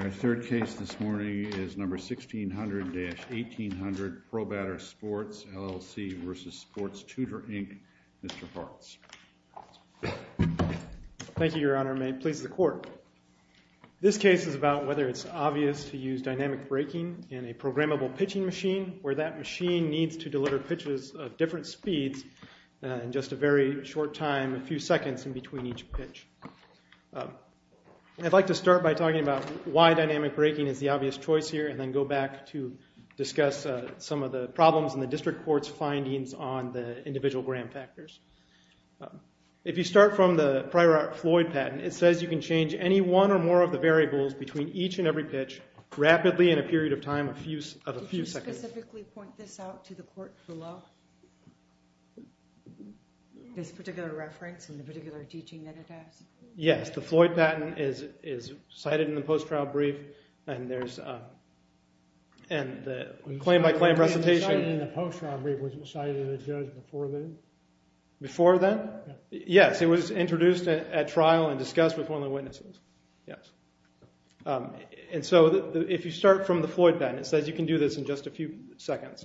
Our third case this morning is number 1600-1800, ProBatter Sports, LLC v. Sports Tutor, Inc. Mr. Hartz. Thank you, Your Honor, and may it please the Court. This case is about whether it's obvious to use dynamic braking in a programmable pitching machine where that machine needs to deliver pitches of different speeds in just a very short time, a few seconds in between each pitch. I'd like to start by talking about why dynamic braking is the obvious choice here and then go back to discuss some of the problems in the District Court's findings on the individual gram factors. If you start from the Pryor-Floyd patent, it says you can change any one or more of the variables between each and every pitch rapidly in a period of time of a few seconds. Did you specifically point this out to the Court below, this particular reference and the particular teaching that it has? Yes. The Floyd patent is cited in the post-trial brief, and there's a claim-by-claim presentation. Was it cited in the post-trial brief? Was it cited in the judge before then? Before then? Yes. It was introduced at trial and discussed with one of the witnesses. Yes. And so if you start from the Floyd patent, it says you can do this in just a few seconds.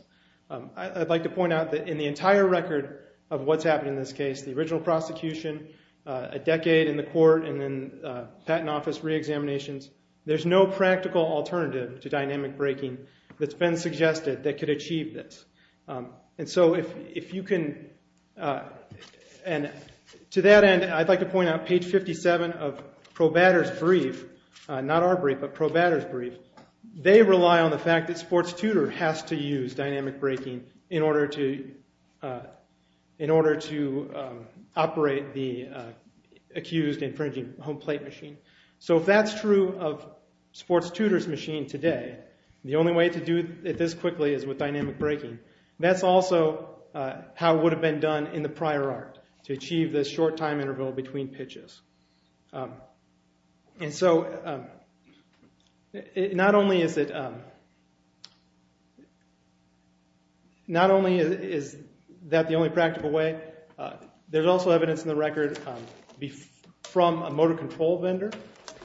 I'd like to point out that in the entire record of what's happened in this case, the original prosecution, a decade in the court, and then patent office reexaminations, there's no practical alternative to dynamic braking that's been suggested that could achieve this. And so if you can... And to that end, I'd like to point out page 57 of Probatter's brief. Not our brief, but Probatter's brief. They rely on the fact that Sports Tutor has to use dynamic braking in order to operate the accused infringing home plate machine. So if that's true of Sports Tutor's machine today, the only way to do it this quickly is with dynamic braking. That's also how it would have been done in the prior art, to achieve this short time interval between pitches. And so not only is it... Not only is that the only practical way, there's also evidence in the record from a motor control vendor,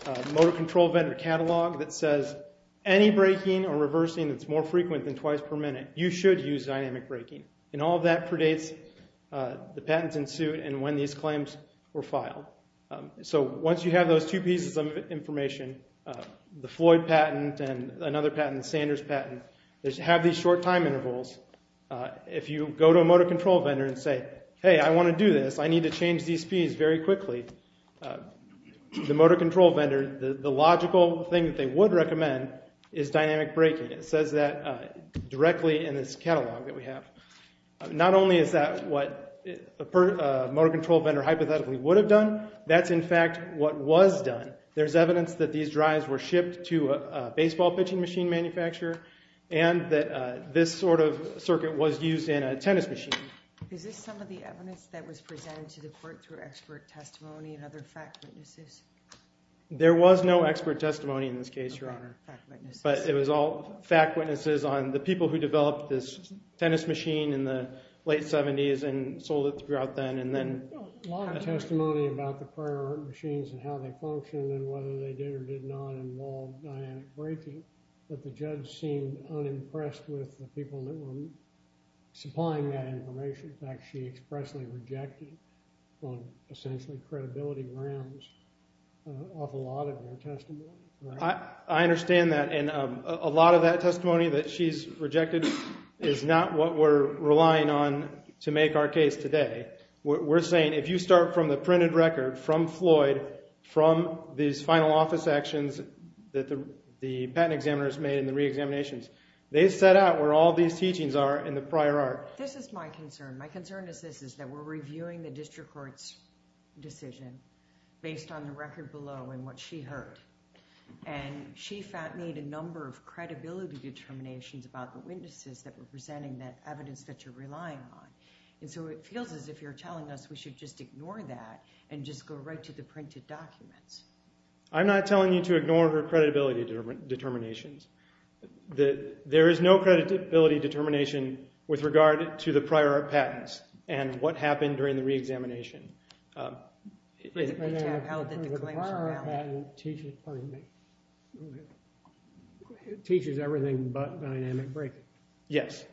a motor control vendor catalog that says any braking or reversing that's more frequent than twice per minute, you should use dynamic braking. And all of that predates the patents in suit and when these claims were filed. So once you have those two pieces of information, the Floyd patent and another patent, Sanders patent, they have these short time intervals. If you go to a motor control vendor and say, hey, I want to do this, I need to change these speeds very quickly, the motor control vendor, the logical thing that they would recommend is dynamic braking. It says that directly in this catalog that we have. Not only is that what a motor control vendor hypothetically would have done, that's in fact what was done. There's evidence that these drives were shipped to a baseball pitching machine manufacturer and that this sort of circuit was used in a tennis machine. Is this some of the evidence that was presented to the court through expert testimony and other fact witnesses? There was no expert testimony in this case, Your Honor. But it was all fact witnesses on the people who developed this tennis machine in the late 70s and sold it throughout then and then. A lot of testimony about the prior machines and how they functioned and whether they did or did not involve dynamic braking, but the judge seemed unimpressed with the people that were supplying that information. In fact, she expressly rejected from essentially credibility grounds an awful lot of their testimony. I understand that and a lot of that testimony that she's rejected is not what we're relying on to make our case today. We're saying if you start from the printed record from Floyd, from these final office actions that the patent examiners made in the re-examinations, they set out where all these teachings are in the prior art. This is my concern. My concern is this, is that we're reviewing the district court's decision based on the evidence that she heard. And she made a number of credibility determinations about the witnesses that were presenting that evidence that you're relying on. And so it feels as if you're telling us we should just ignore that and just go right to the printed documents. I'm not telling you to ignore her credibility determinations. There is no credibility determination with regard to the prior art patents and what happened during the re-examination. The prior art patent teaches everything but dynamic breaking. Yes.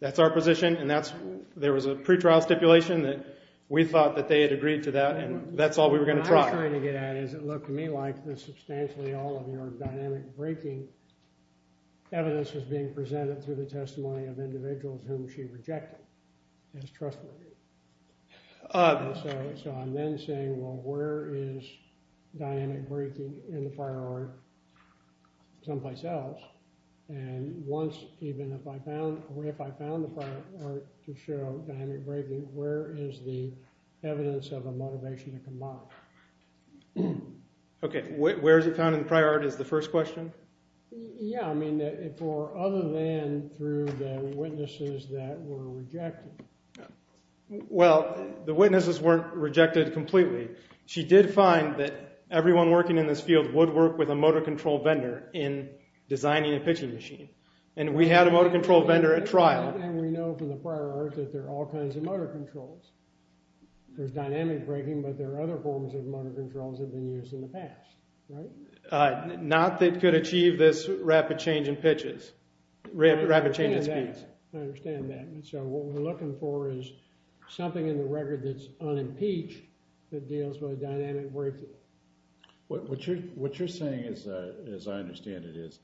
That's our position and there was a pretrial stipulation that we thought that they had agreed to that and that's all we were going to try. What I'm trying to get at is it looked to me like substantially all of your dynamic breaking evidence was being presented through the testimony of individuals whom she rejected as trustworthy. So I'm then saying, well, where is dynamic breaking in the prior art someplace else? And once, even if I found the prior art to show dynamic breaking, where is the evidence of a motivation to comply? Okay, where is it found in the prior art is the first question? Yeah, I mean, for other than through the witnesses that were rejected. Well, the witnesses weren't rejected completely. She did find that everyone working in this field would work with a motor control vendor in designing a pitching machine. And we had a motor control vendor at trial. And we know from the prior art that there are all kinds of motor controls. There's dynamic breaking but there are other forms of motor controls that have been used in the past, right? Not that could achieve this rapid change in pitches, rapid change in speeds. I understand that. And so what we're looking for is something in the record that's unimpeached that deals with a dynamic breaking. What you're saying, as I understand it, is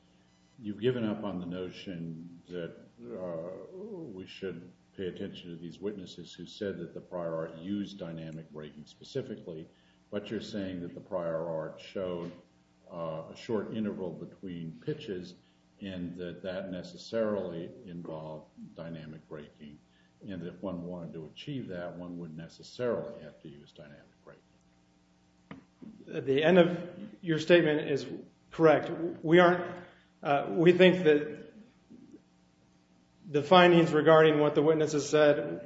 you've given up on the notion that we should pay attention to these witnesses who said that the prior art used dynamic breaking specifically, but you're saying that the prior art showed a short interval between pitches and that necessarily involved dynamic breaking. And if one wanted to achieve that, one wouldn't necessarily have to use dynamic breaking. The end of your statement is correct. We think that the findings regarding what the witnesses said,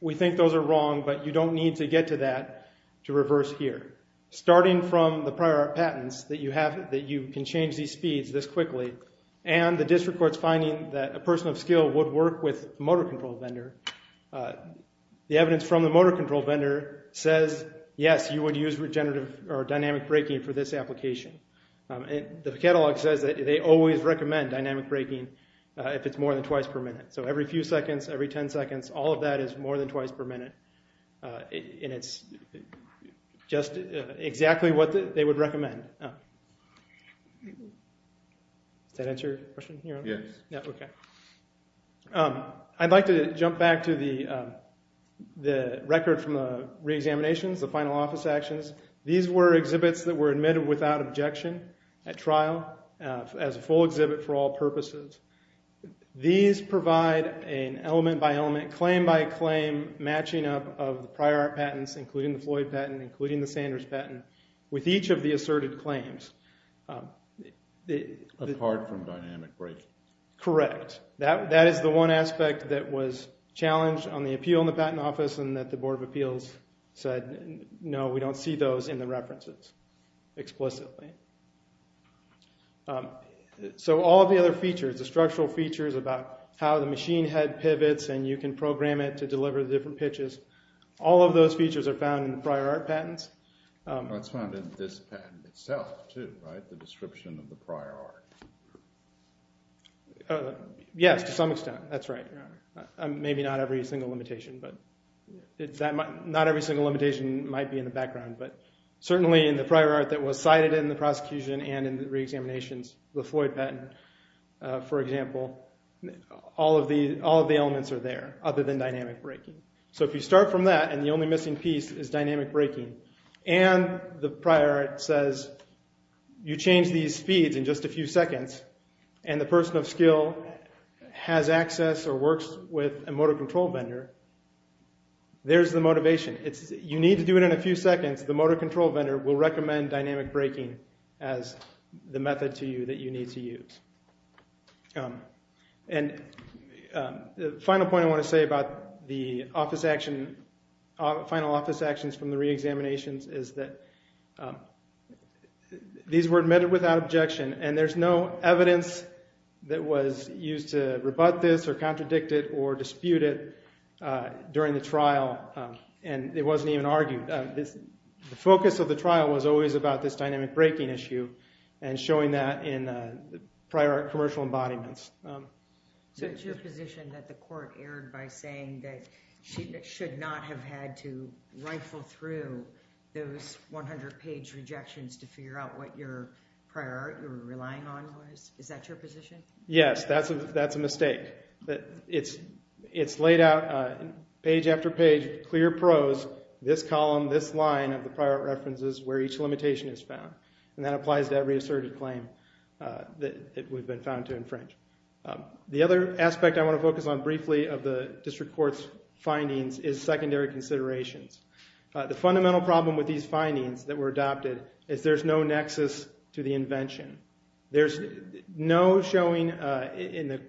we think those are wrong, but you don't need to get to that to reverse here. Starting from the prior art patents that you have, that you can change these speeds this quickly, and the district court's finding that a person of skill would work with a motor control vendor. The evidence from the motor control vendor says, yes, you would use regenerative or dynamic breaking for this application. The catalog says that they always recommend dynamic breaking if it's more than twice per minute. So every few seconds, every 10 seconds, all of that is more than twice per minute. And it's just exactly what they would recommend. Does that answer your question? Yes. Okay. I'd like to jump back to the record from the reexaminations, the final office actions. These were exhibits that were admitted without objection at trial as a full exhibit for all purposes. These provide an element-by-element, claim-by-claim matching up of the prior art patents, including the Floyd patent, including the Sanders patent, with each of the asserted claims. Apart from dynamic breaking. Correct. That is the one aspect that was challenged on the appeal in the patent office and that the Board of Appeals said, no, we don't see those in the references explicitly. So all of the other features, the structural features about how the machine head pivots and you can program it to deliver the different pitches, all of those features are found in the prior art patents. That's found in this patent itself, too, right? The description of the prior art. Yes, to some extent. That's right, Your Honor. Maybe not every single limitation, but not every single limitation might be in the background. But certainly in the prior art that was cited in the prosecution and in the reexaminations, the Floyd patent, for example, all of the elements are there other than dynamic breaking. So if you start from that and the only missing piece is dynamic breaking and the prior art says you change these speeds in just a few seconds and the person of skill has access or works with a motor control vendor, there's the motivation. You need to do it in a few seconds. The motor control vendor will recommend dynamic breaking as the method to you that you need to use. The final point I want to say about the final office actions from the reexaminations is that these were admitted without objection and there's no evidence that was used to rebut this or contradict it or dispute it during the trial. And it wasn't even argued. The focus of the trial was always about this dynamic breaking issue and showing that in prior commercial embodiments. So it's your position that the court erred by saying that she should not have had to rifle through those 100-page rejections to figure out what your prior art you were relying on was? Is that your position? Yes. That's a mistake. It's laid out page after page, clear prose, this column, this line of the prior art references where each limitation is found. And that applies to every asserted claim that we've been found to infringe. The other aspect I want to focus on briefly of the district court's findings is secondary considerations. The fundamental problem with these findings that were adopted is there's no nexus to the invention. There's no showing in the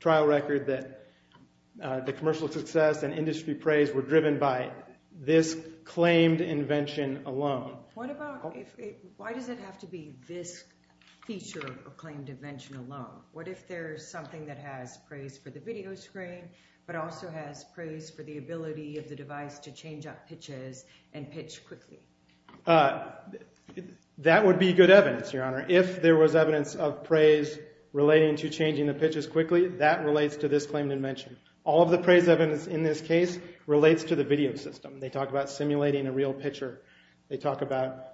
trial record that the commercial success and industry praise were driven by this claimed invention alone. Why does it have to be this feature of claimed invention alone? What if there's something that has praise for the video screen but also has praise for the ability of the device to change up pitches and pitch quickly? That would be good evidence, Your Honor. If there was evidence of praise relating to changing the pitches quickly, that relates to this claimed invention. All of the praise evidence in this case relates to the video system. They talk about simulating a real pitcher. They talk about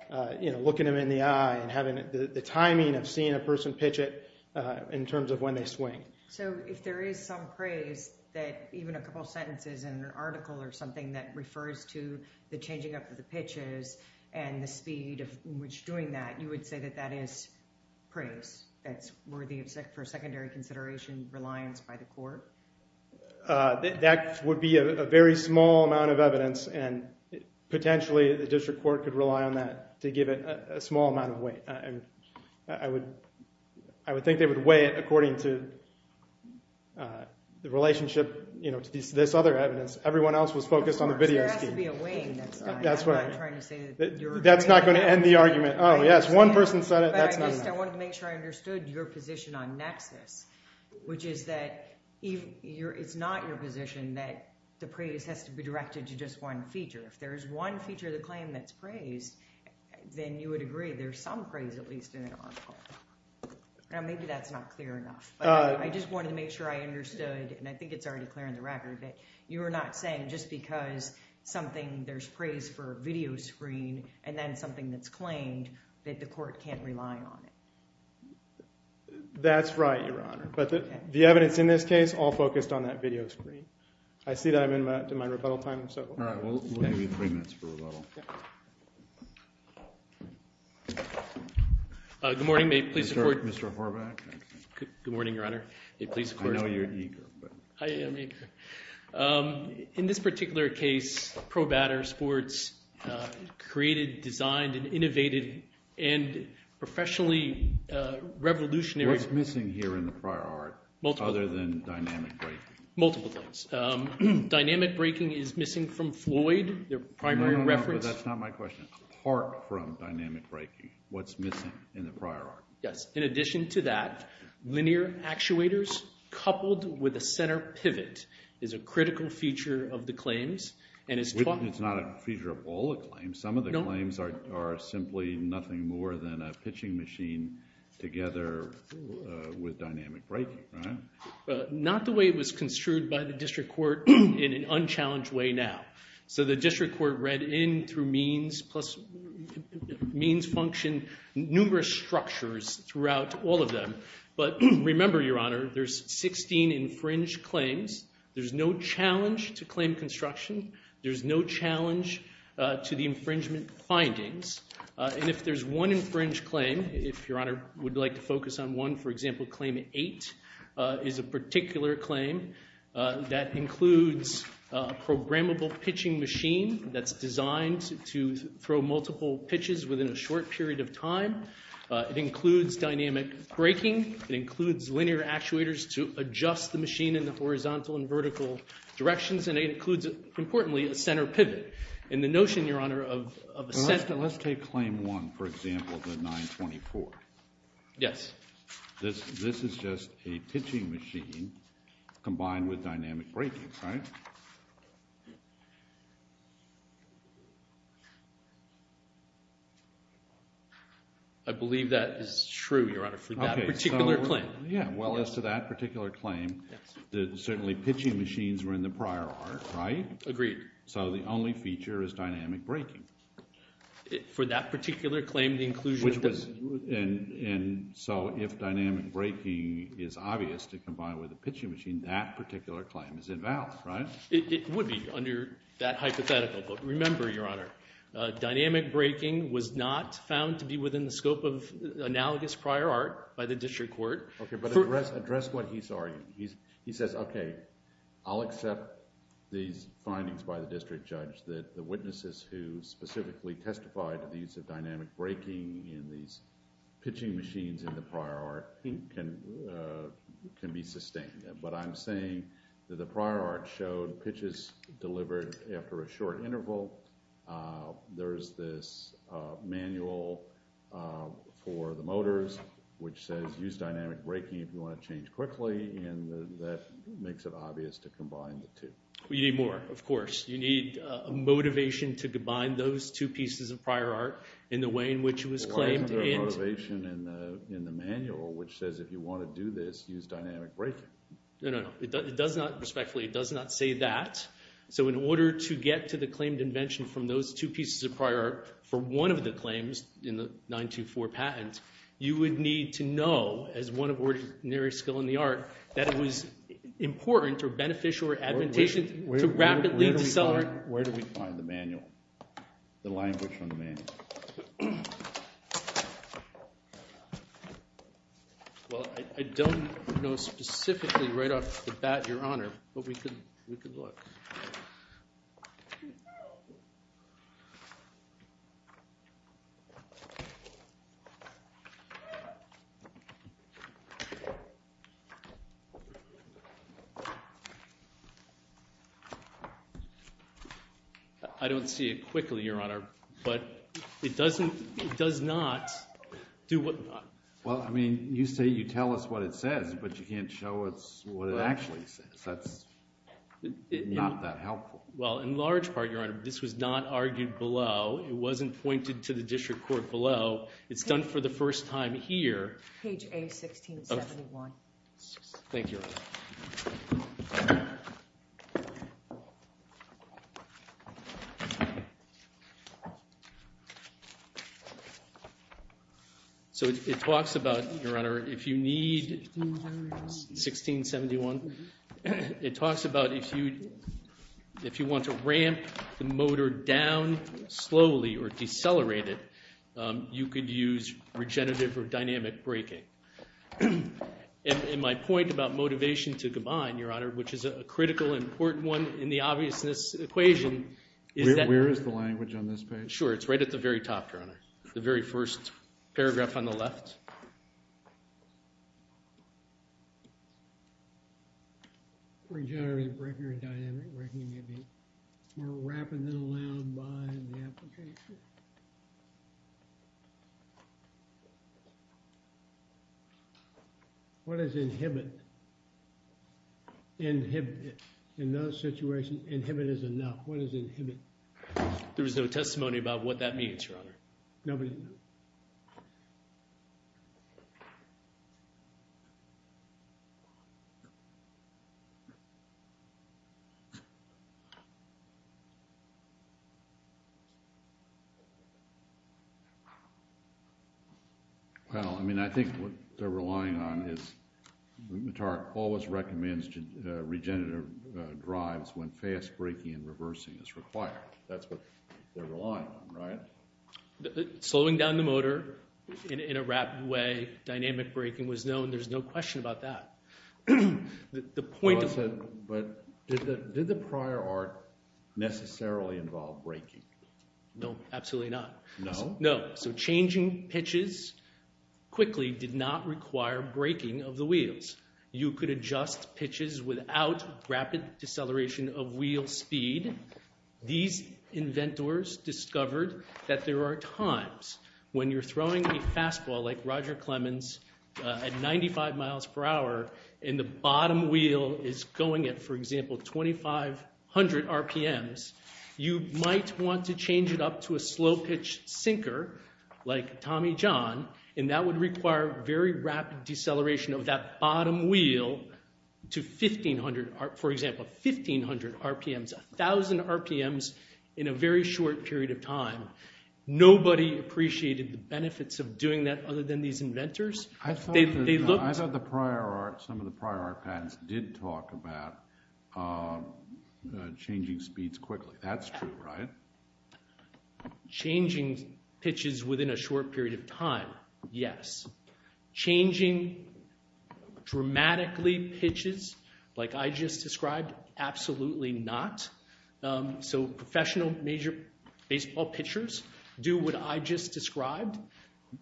looking them in the eye and having the timing of seeing a person pitch it in terms of when they swing. So if there is some praise that even a couple sentences in an article or something that refers to the changing up of the pitches and the speed of which doing that, you would say that that is praise that's worthy for secondary consideration, reliance by the court? That would be a very small amount of evidence and potentially the district court could rely on that to give it a small amount of weight. I would think they would weigh it according to the relationship to this other evidence. Everyone else was focused on the video scheme. There has to be a weighing that's done. That's what I'm trying to say. That's not going to end the argument. Yes, one person said it. That's not enough. I just wanted to make sure I understood your position on nexus, which is that it's not your position that the praise has to be directed to just one feature. If there is one feature of the claim that's praised, then you would agree there's some praise at least in an article. Maybe that's not clear enough. I just wanted to make sure I understood, and I think it's already clear on the record, that you're not saying just because something – there's praise for a video screen and then something that's claimed that the court can't rely on it. That's right, Your Honor. But the evidence in this case all focused on that video screen. I see that I'm in my rebuttal time, so. All right. We'll give you three minutes for rebuttal. Good morning. May it please the Court. Mr. Horvath. Good morning, Your Honor. May it please the Court. I know you're eager. I am eager. In this particular case, ProBatter Sports created, designed, and innovated and professionally revolutionary – What's missing here in the prior art other than dynamic braking? Multiple things. Dynamic braking is missing from Floyd, their primary reference – No, no, no, but that's not my question. Apart from dynamic braking, what's missing in the prior art? Yes. In addition to that, linear actuators coupled with a center pivot is a critical feature of the claims and is – It's not a feature of all the claims. Some of the claims are simply nothing more than a pitching machine together with dynamic braking, right? Not the way it was construed by the district court in an unchallenged way now. So the district court read in through means function numerous structures throughout all of them. But remember, Your Honor, there's 16 infringed claims. There's no challenge to claim construction. There's no challenge to the infringement findings. And if there's one infringed claim, if Your Honor would like to focus on one, for example, is a particular claim that includes a programmable pitching machine that's designed to throw multiple pitches within a short period of time. It includes dynamic braking. It includes linear actuators to adjust the machine in the horizontal and vertical directions. And it includes, importantly, a center pivot. And the notion, Your Honor, of a center – Let's take claim one, for example, the 924. Yes. This is just a pitching machine combined with dynamic braking, right? I believe that is true, Your Honor, for that particular claim. Yeah. Well, as to that particular claim, certainly pitching machines were in the prior art, right? Agreed. So the only feature is dynamic braking. For that particular claim, the inclusion – And so if dynamic braking is obvious to combine with a pitching machine, that particular claim is invalid, right? It would be under that hypothetical, but remember, Your Honor, dynamic braking was not found to be within the scope of analogous prior art by the district court. Okay, but address what he's arguing. He says, okay, I'll accept these findings by the district judge that the witnesses who specifically testified to the use of dynamic braking in these pitching machines in the prior art can be sustained. But I'm saying that the prior art showed pitches delivered after a short interval. There's this manual for the motors which says use dynamic braking if you want to change quickly, and that makes it obvious to combine the two. You need more, of course. You need a motivation to combine those two pieces of prior art in the way in which it was claimed. Well, why isn't there a motivation in the manual which says if you want to do this, use dynamic braking? No, no, no. Respectfully, it does not say that. So in order to get to the claimed invention from those two pieces of prior art for one of the claims in the 924 patent, you would need to know, as one of ordinary skill in the art, that it was important or beneficial or advantageous to rapidly decelerate. Where do we find the manual, the language from the manual? Well, I don't know specifically right off the bat, Your Honor, but we could look. I don't see it quickly, Your Honor, but it doesn't, it does not do what. Well, I mean, you say you tell us what it says, but you can't show us what it actually says. That's not that helpful. Well, in large part, Your Honor, this was not argued below. It wasn't pointed to the district court below. It's done for the first time here. Page A-1671. Thank you. So it talks about, Your Honor, if you need 1671, it talks about if you want to ramp the motor down slowly or decelerate it, you could use regenerative or dynamic braking. And my point about motivation to combine, Your Honor, which is a critical and important one in the obviousness equation is that— Where is the language on this page? Sure, it's right at the very top, Your Honor, the very first paragraph on the left. Regenerative braking or dynamic braking may be more rapid than allowed by the application. What is inhibit? Inhibit. In those situations, inhibit is enough. What is inhibit? There was no testimony about what that means, Your Honor. Nobody? Well, I mean, I think what they're relying on is— Matar always recommends regenerative drives when fast braking and reversing is required. That's what they're relying on, right? Slowing down the motor in a rapid way, dynamic braking was known. There's no question about that. But did the prior art necessarily involve braking? No, absolutely not. No? No. So changing pitches quickly did not require braking of the wheels. You could adjust pitches without rapid deceleration of wheel speed. These inventors discovered that there are times when you're throwing a fastball like Roger Clemens at 95 miles per hour and the bottom wheel is going at, for example, 2,500 RPMs, you might want to change it up to a slow-pitch sinker like Tommy John, and that would require very rapid deceleration of that bottom wheel to 1,500— 2,000 RPMs in a very short period of time. Nobody appreciated the benefits of doing that other than these inventors. They looked— I thought the prior art—some of the prior art patents did talk about changing speeds quickly. That's true, right? Changing pitches within a short period of time, yes. Changing dramatically pitches like I just described, absolutely not. So professional baseball pitchers do what I just described.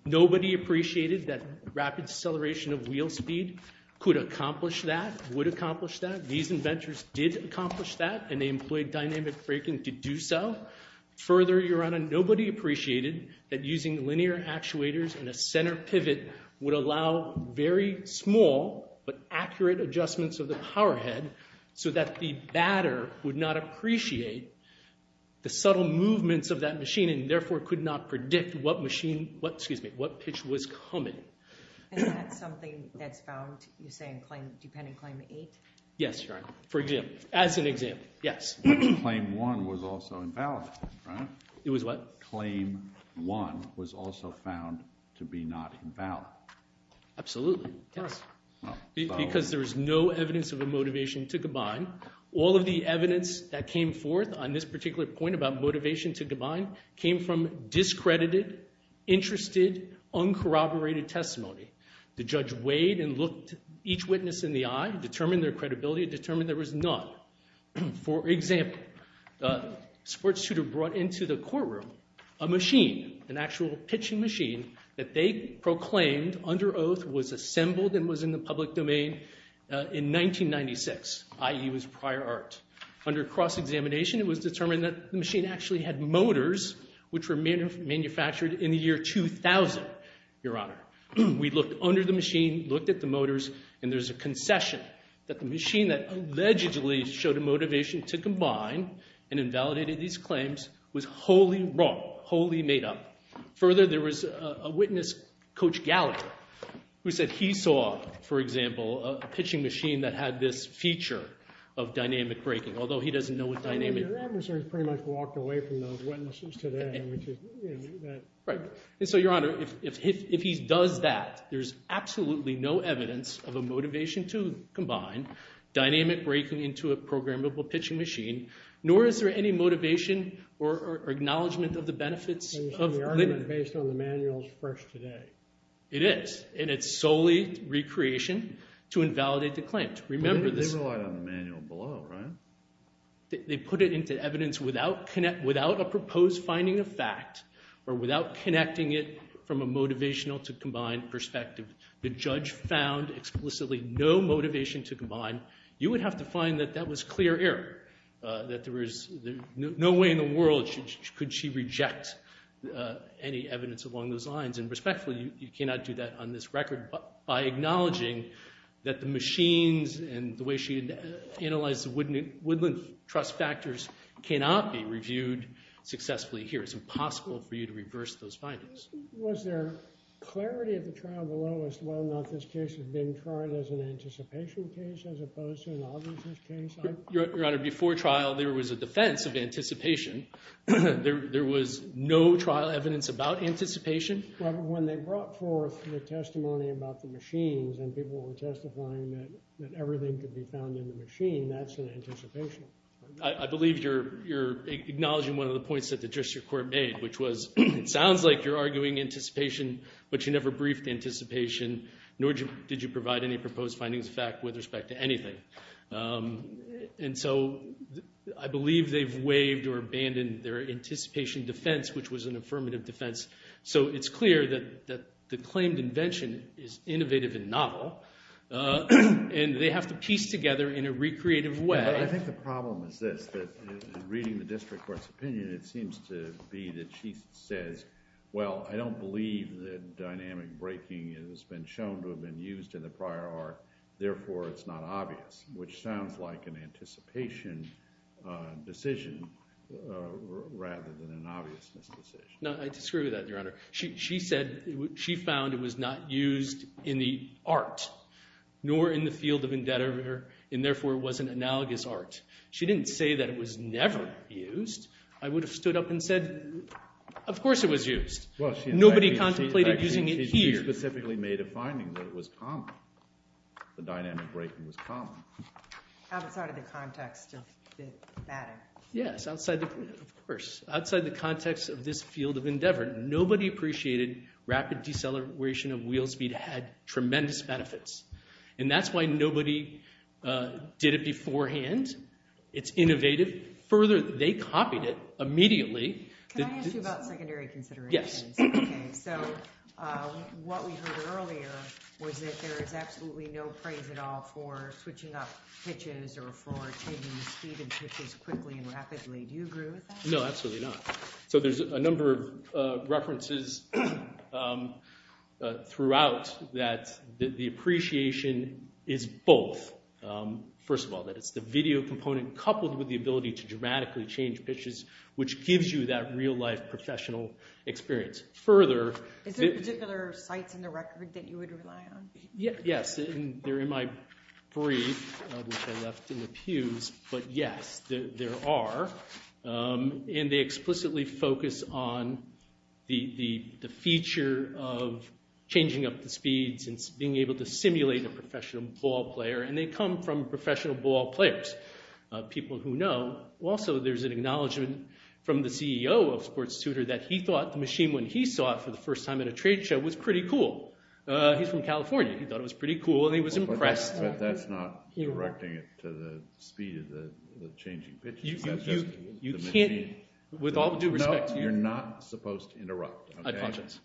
Nobody appreciated that rapid deceleration of wheel speed could accomplish that, would accomplish that. These inventors did accomplish that, and they employed dynamic braking to do so. Further, Your Honor, nobody appreciated that using linear actuators and a center pivot would allow very small but accurate adjustments of the powerhead so that the batter would not appreciate the subtle movements of that machine and therefore could not predict what pitch was coming. And that's something that's found, you're saying, depending on Claim 8? Yes, Your Honor, for example, as an example, yes. But Claim 1 was also invalid, right? It was what? Claim 1 was also found to be not invalid. Absolutely, yes, because there is no evidence of a motivation to combine. All of the evidence that came forth on this particular point about motivation to combine came from discredited, interested, uncorroborated testimony. The judge weighed and looked each witness in the eye, determined their credibility, determined there was none. For example, a sports tutor brought into the courtroom a machine, an actual pitching machine, that they proclaimed under oath was assembled and was in the public domain in 1996, i.e. was prior art. Under cross-examination, it was determined that the machine actually had motors which were manufactured in the year 2000, Your Honor. We looked under the machine, looked at the motors, and there's a concession that the machine that allegedly showed a motivation to combine and invalidated these claims was wholly wrong, wholly made up. Further, there was a witness, Coach Gallagher, who said he saw, for example, a pitching machine that had this feature of dynamic braking, although he doesn't know what dynamic… Your adversary has pretty much walked away from those witnesses today. Right. And so, Your Honor, if he does that, there's absolutely no evidence of a motivation to combine dynamic braking into a programmable pitching machine, nor is there any motivation or acknowledgment of the benefits of… The argument based on the manual is fresh today. It is, and it's solely recreation to invalidate the claim. They relied on the manual below, right? They put it into evidence without a proposed finding of fact or without connecting it from a motivational to combine perspective. The judge found explicitly no motivation to combine. You would have to find that that was clear error, that there was no way in the world could she reject any evidence along those lines. And respectfully, you cannot do that on this record by acknowledging that the machines and the way she analyzed the Woodland Trust factors cannot be reviewed successfully here. It's impossible for you to reverse those findings. Was there clarity of the trial below as to whether or not this case had been tried as an anticipation case as opposed to an obviousness case? Your Honor, before trial, there was a defense of anticipation. There was no trial evidence about anticipation. When they brought forth the testimony about the machines and people were testifying that everything could be found in the machine, that's an anticipation. I believe you're acknowledging one of the points that the Judiciary Court made, which was it sounds like you're arguing anticipation, but you never briefed anticipation, nor did you provide any proposed findings of fact with respect to anything. And so I believe they've waived or abandoned their anticipation defense, which was an affirmative defense. So it's clear that the claimed invention is innovative and novel, and they have to piece together in a recreative way. But I think the problem is this, that in reading the district court's opinion, it seems to be that she says, well, I don't believe that dynamic breaking has been shown to have been used in the prior art, therefore it's not obvious, which sounds like an anticipation decision rather than an obviousness decision. No, I disagree with that, Your Honor. She said she found it was not used in the art, nor in the field of indebtedness, and therefore it was an analogous art. She didn't say that it was never used. I would have stood up and said, of course it was used. Nobody contemplated using it here. She specifically made a finding that it was common. The dynamic breaking was common. Outside of the context of the matter. Yes, of course. Outside the context of this field of endeavor, nobody appreciated rapid deceleration of wheel speed had tremendous benefits. And that's why nobody did it beforehand. It's innovative. Further, they copied it immediately. Can I ask you about secondary considerations? Yes. Okay, so what we heard earlier was that there is absolutely no praise at all for switching up pitches or for changing the speed of pitches quickly and rapidly. Do you agree with that? No, absolutely not. So there's a number of references throughout that the appreciation is both. First of all, that it's the video component coupled with the ability to dramatically change pitches, which gives you that real-life professional experience. Further, Is there particular sites in the record that you would rely on? Yes. They're in my brief, which I left in the pews. But yes, there are. And they explicitly focus on the feature of changing up the speeds and being able to simulate a professional ball player. And they come from professional ball players, people who know. Also, there's an acknowledgment from the CEO of Sports Tutor that he thought the machine when he saw it for the first time at a trade show was pretty cool. He's from California. He thought it was pretty cool, and he was impressed. But that's not directing it to the speed of the changing pitches. That's just the machine. With all due respect to you. No, you're not supposed to interrupt. I apologize.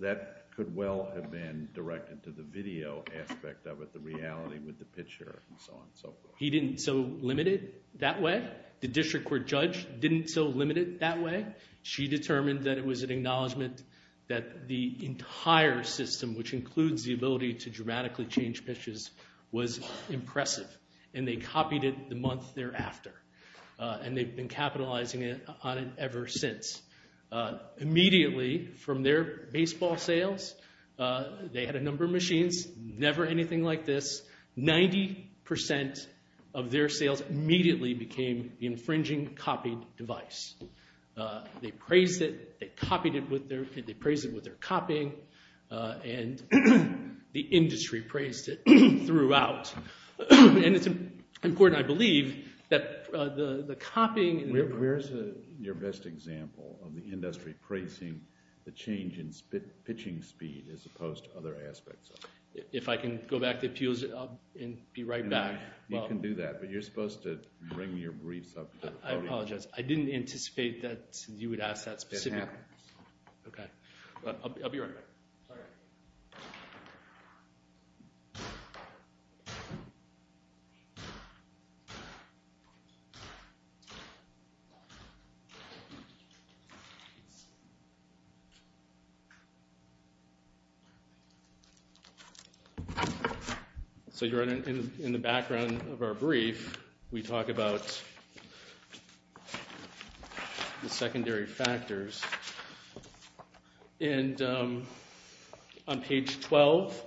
That could well have been directed to the video aspect of it, the reality with the pitcher and so on and so forth. He didn't so limit it that way? The district court judge didn't so limit it that way? She determined that it was an acknowledgment that the entire system, which includes the ability to dramatically change pitches, was impressive. And they copied it the month thereafter. And they've been capitalizing on it ever since. Immediately from their baseball sales, they had a number of machines, never anything like this. Ninety percent of their sales immediately became the infringing copied device. They praised it. They praised it with their copying. And the industry praised it throughout. And it's important, I believe, that the copying. Where's your best example of the industry praising the change in pitching speed as opposed to other aspects of it? If I can go back to appeals, I'll be right back. You can do that. But you're supposed to bring your briefs up to the podium. I didn't anticipate that you would ask that specifically. It happens. Okay. I'll be right back. Sorry. So you're in the background of our brief. We talk about the secondary factors. And on page 12,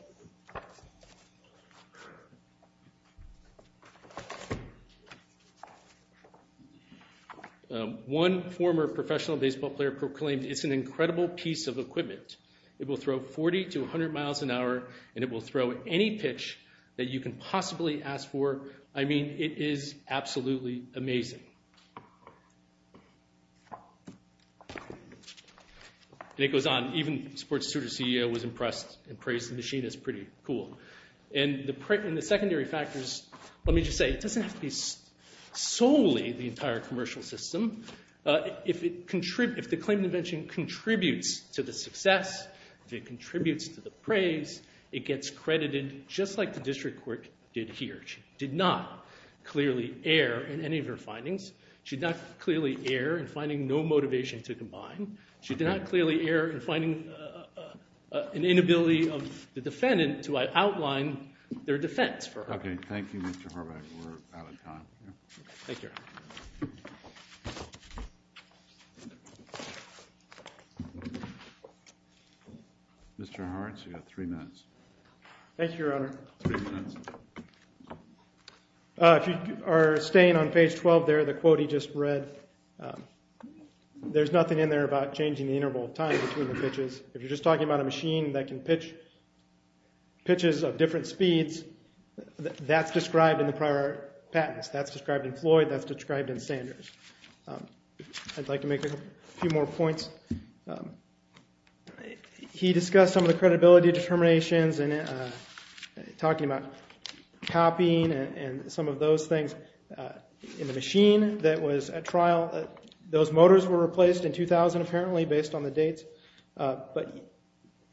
one former professional baseball player proclaimed, it's an incredible piece of equipment. It will throw 40 to 100 miles an hour, and it will throw any pitch that you can possibly ask for. I mean, it is absolutely amazing. And it goes on. Even sports studio CEO was impressed and praised the machine. It's pretty cool. And the secondary factors, let me just say, it doesn't have to be solely the entire commercial system. If the claim to invention contributes to the success, if it contributes to the praise, it gets credited just like the district court did here. She did not clearly err in any of her findings. She did not clearly err in finding no motivation to combine. She did not clearly err in finding an inability of the defendant to outline their defense for her. Okay. Thank you, Mr. Horvath. We're out of time. Thank you. Mr. Hart, you've got three minutes. Thank you, Your Honor. Three minutes. If you are staying on page 12 there, the quote he just read, there's nothing in there about changing the interval of time between the pitches. If you're just talking about a machine that can pitch pitches of different speeds, that's described in the prior patents. That's described in Floyd. That's described in Sanders. I'd like to make a few more points. He discussed some of the credibility determinations and talking about copying and some of those things. In the machine that was at trial, those motors were replaced in 2000 apparently based on the dates. But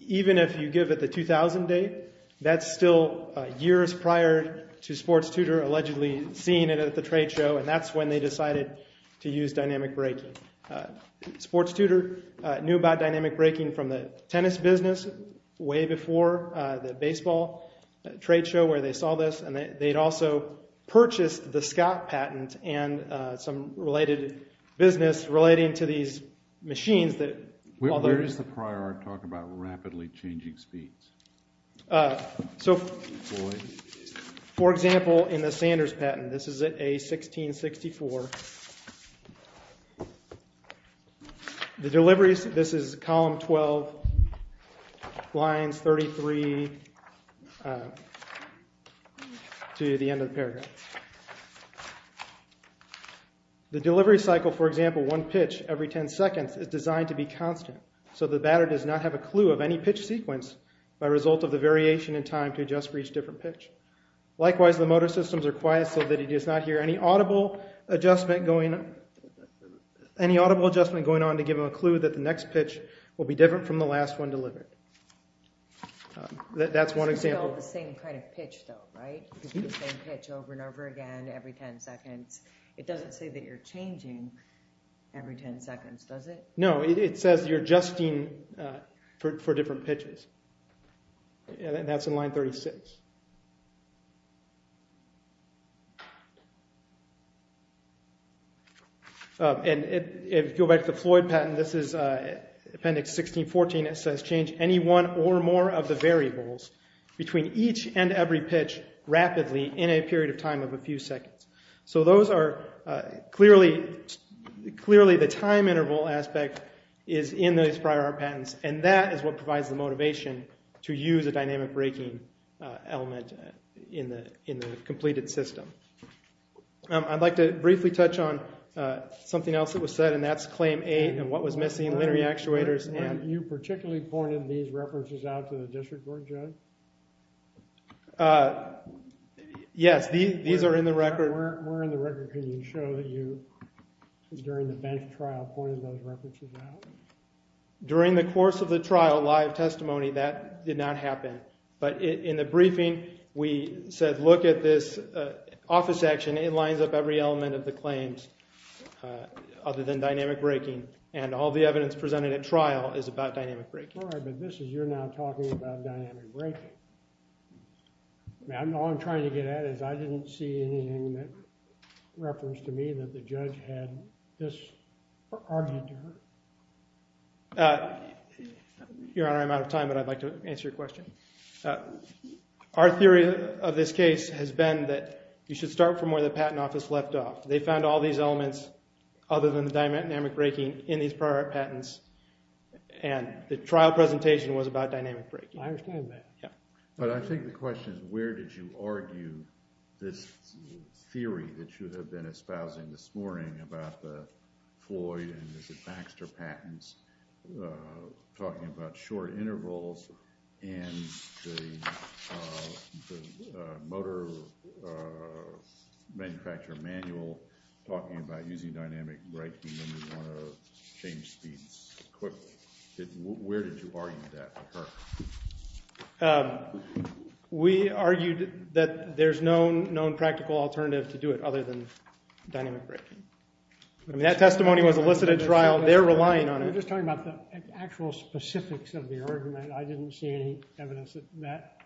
even if you give it the 2000 date, that's still years prior to sports tutor allegedly seeing it at the trade show, and that's when they decided to use dynamic braking. Sports tutor knew about dynamic braking from the tennis business way before the baseball trade show where they saw this, and they'd also purchased the Scott patent and some related business relating to these machines. Where is the prior talk about rapidly changing speeds? So, for example, in the Sanders patent, this is at A1664. This is column 12, lines 33 to the end of the paragraph. The delivery cycle, for example, one pitch every 10 seconds, is designed to be constant, so the batter does not have a clue of any pitch sequence by result of the variation in time to adjust for each different pitch. Likewise, the motor systems are quiet so that he does not hear any audible adjustment going on to give him a clue that the next pitch will be different from the last one delivered. That's one example. It's still the same kind of pitch though, right? It's the same pitch over and over again every 10 seconds. It doesn't say that you're changing every 10 seconds, does it? No, it says you're adjusting for different pitches. And that's in line 36. And if you go back to the Floyd patent, this is appendix 1614. It says, change any one or more of the variables between each and every pitch rapidly in a period of time of a few seconds. So those are clearly the time interval aspect is in those prior patents, and that is what provides the motivation to use a dynamic braking element in the completed system. I'd like to briefly touch on something else that was said, and that's claim eight and what was missing in linear actuators. And you particularly pointed these references out to the district court, Joe? Yes, these are in the record. Where in the record can you show that you, during the bench trial, pointed those references out? During the course of the trial, live testimony, that did not happen. But in the briefing, we said, look at this office section. It lines up every element of the claims other than dynamic braking. And all the evidence presented at trial is about dynamic braking. All right, but this is you're now talking about dynamic braking. All I'm trying to get at is I didn't see anything that referenced to me that the judge had this argued to her. Your Honor, I'm out of time, but I'd like to answer your question. Our theory of this case has been that you should start from where the patent office left off. They found all these elements other than the dynamic braking in these prior patents, and the trial presentation was about dynamic braking. I understand that. But I think the question is where did you argue this theory that you have been espousing this morning about the Floyd and the Baxter patents talking about short intervals and the motor manufacturer manual talking about using dynamic braking when you want to change speeds quickly? Where did you argue that to her? We argued that there's no known practical alternative to do it other than dynamic braking. I mean, that testimony was elicited at trial. They're relying on it. We're just talking about the actual specifics of the argument. I didn't see any evidence of that.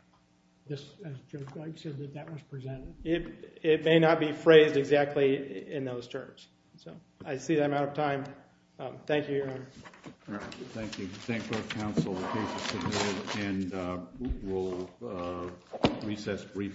As Judge Blake said, that was presented. It may not be phrased exactly in those terms. So I see I'm out of time. Thank you, Your Honor. Thank you. Thank the counsel. The case is submitted, and we'll recess briefly.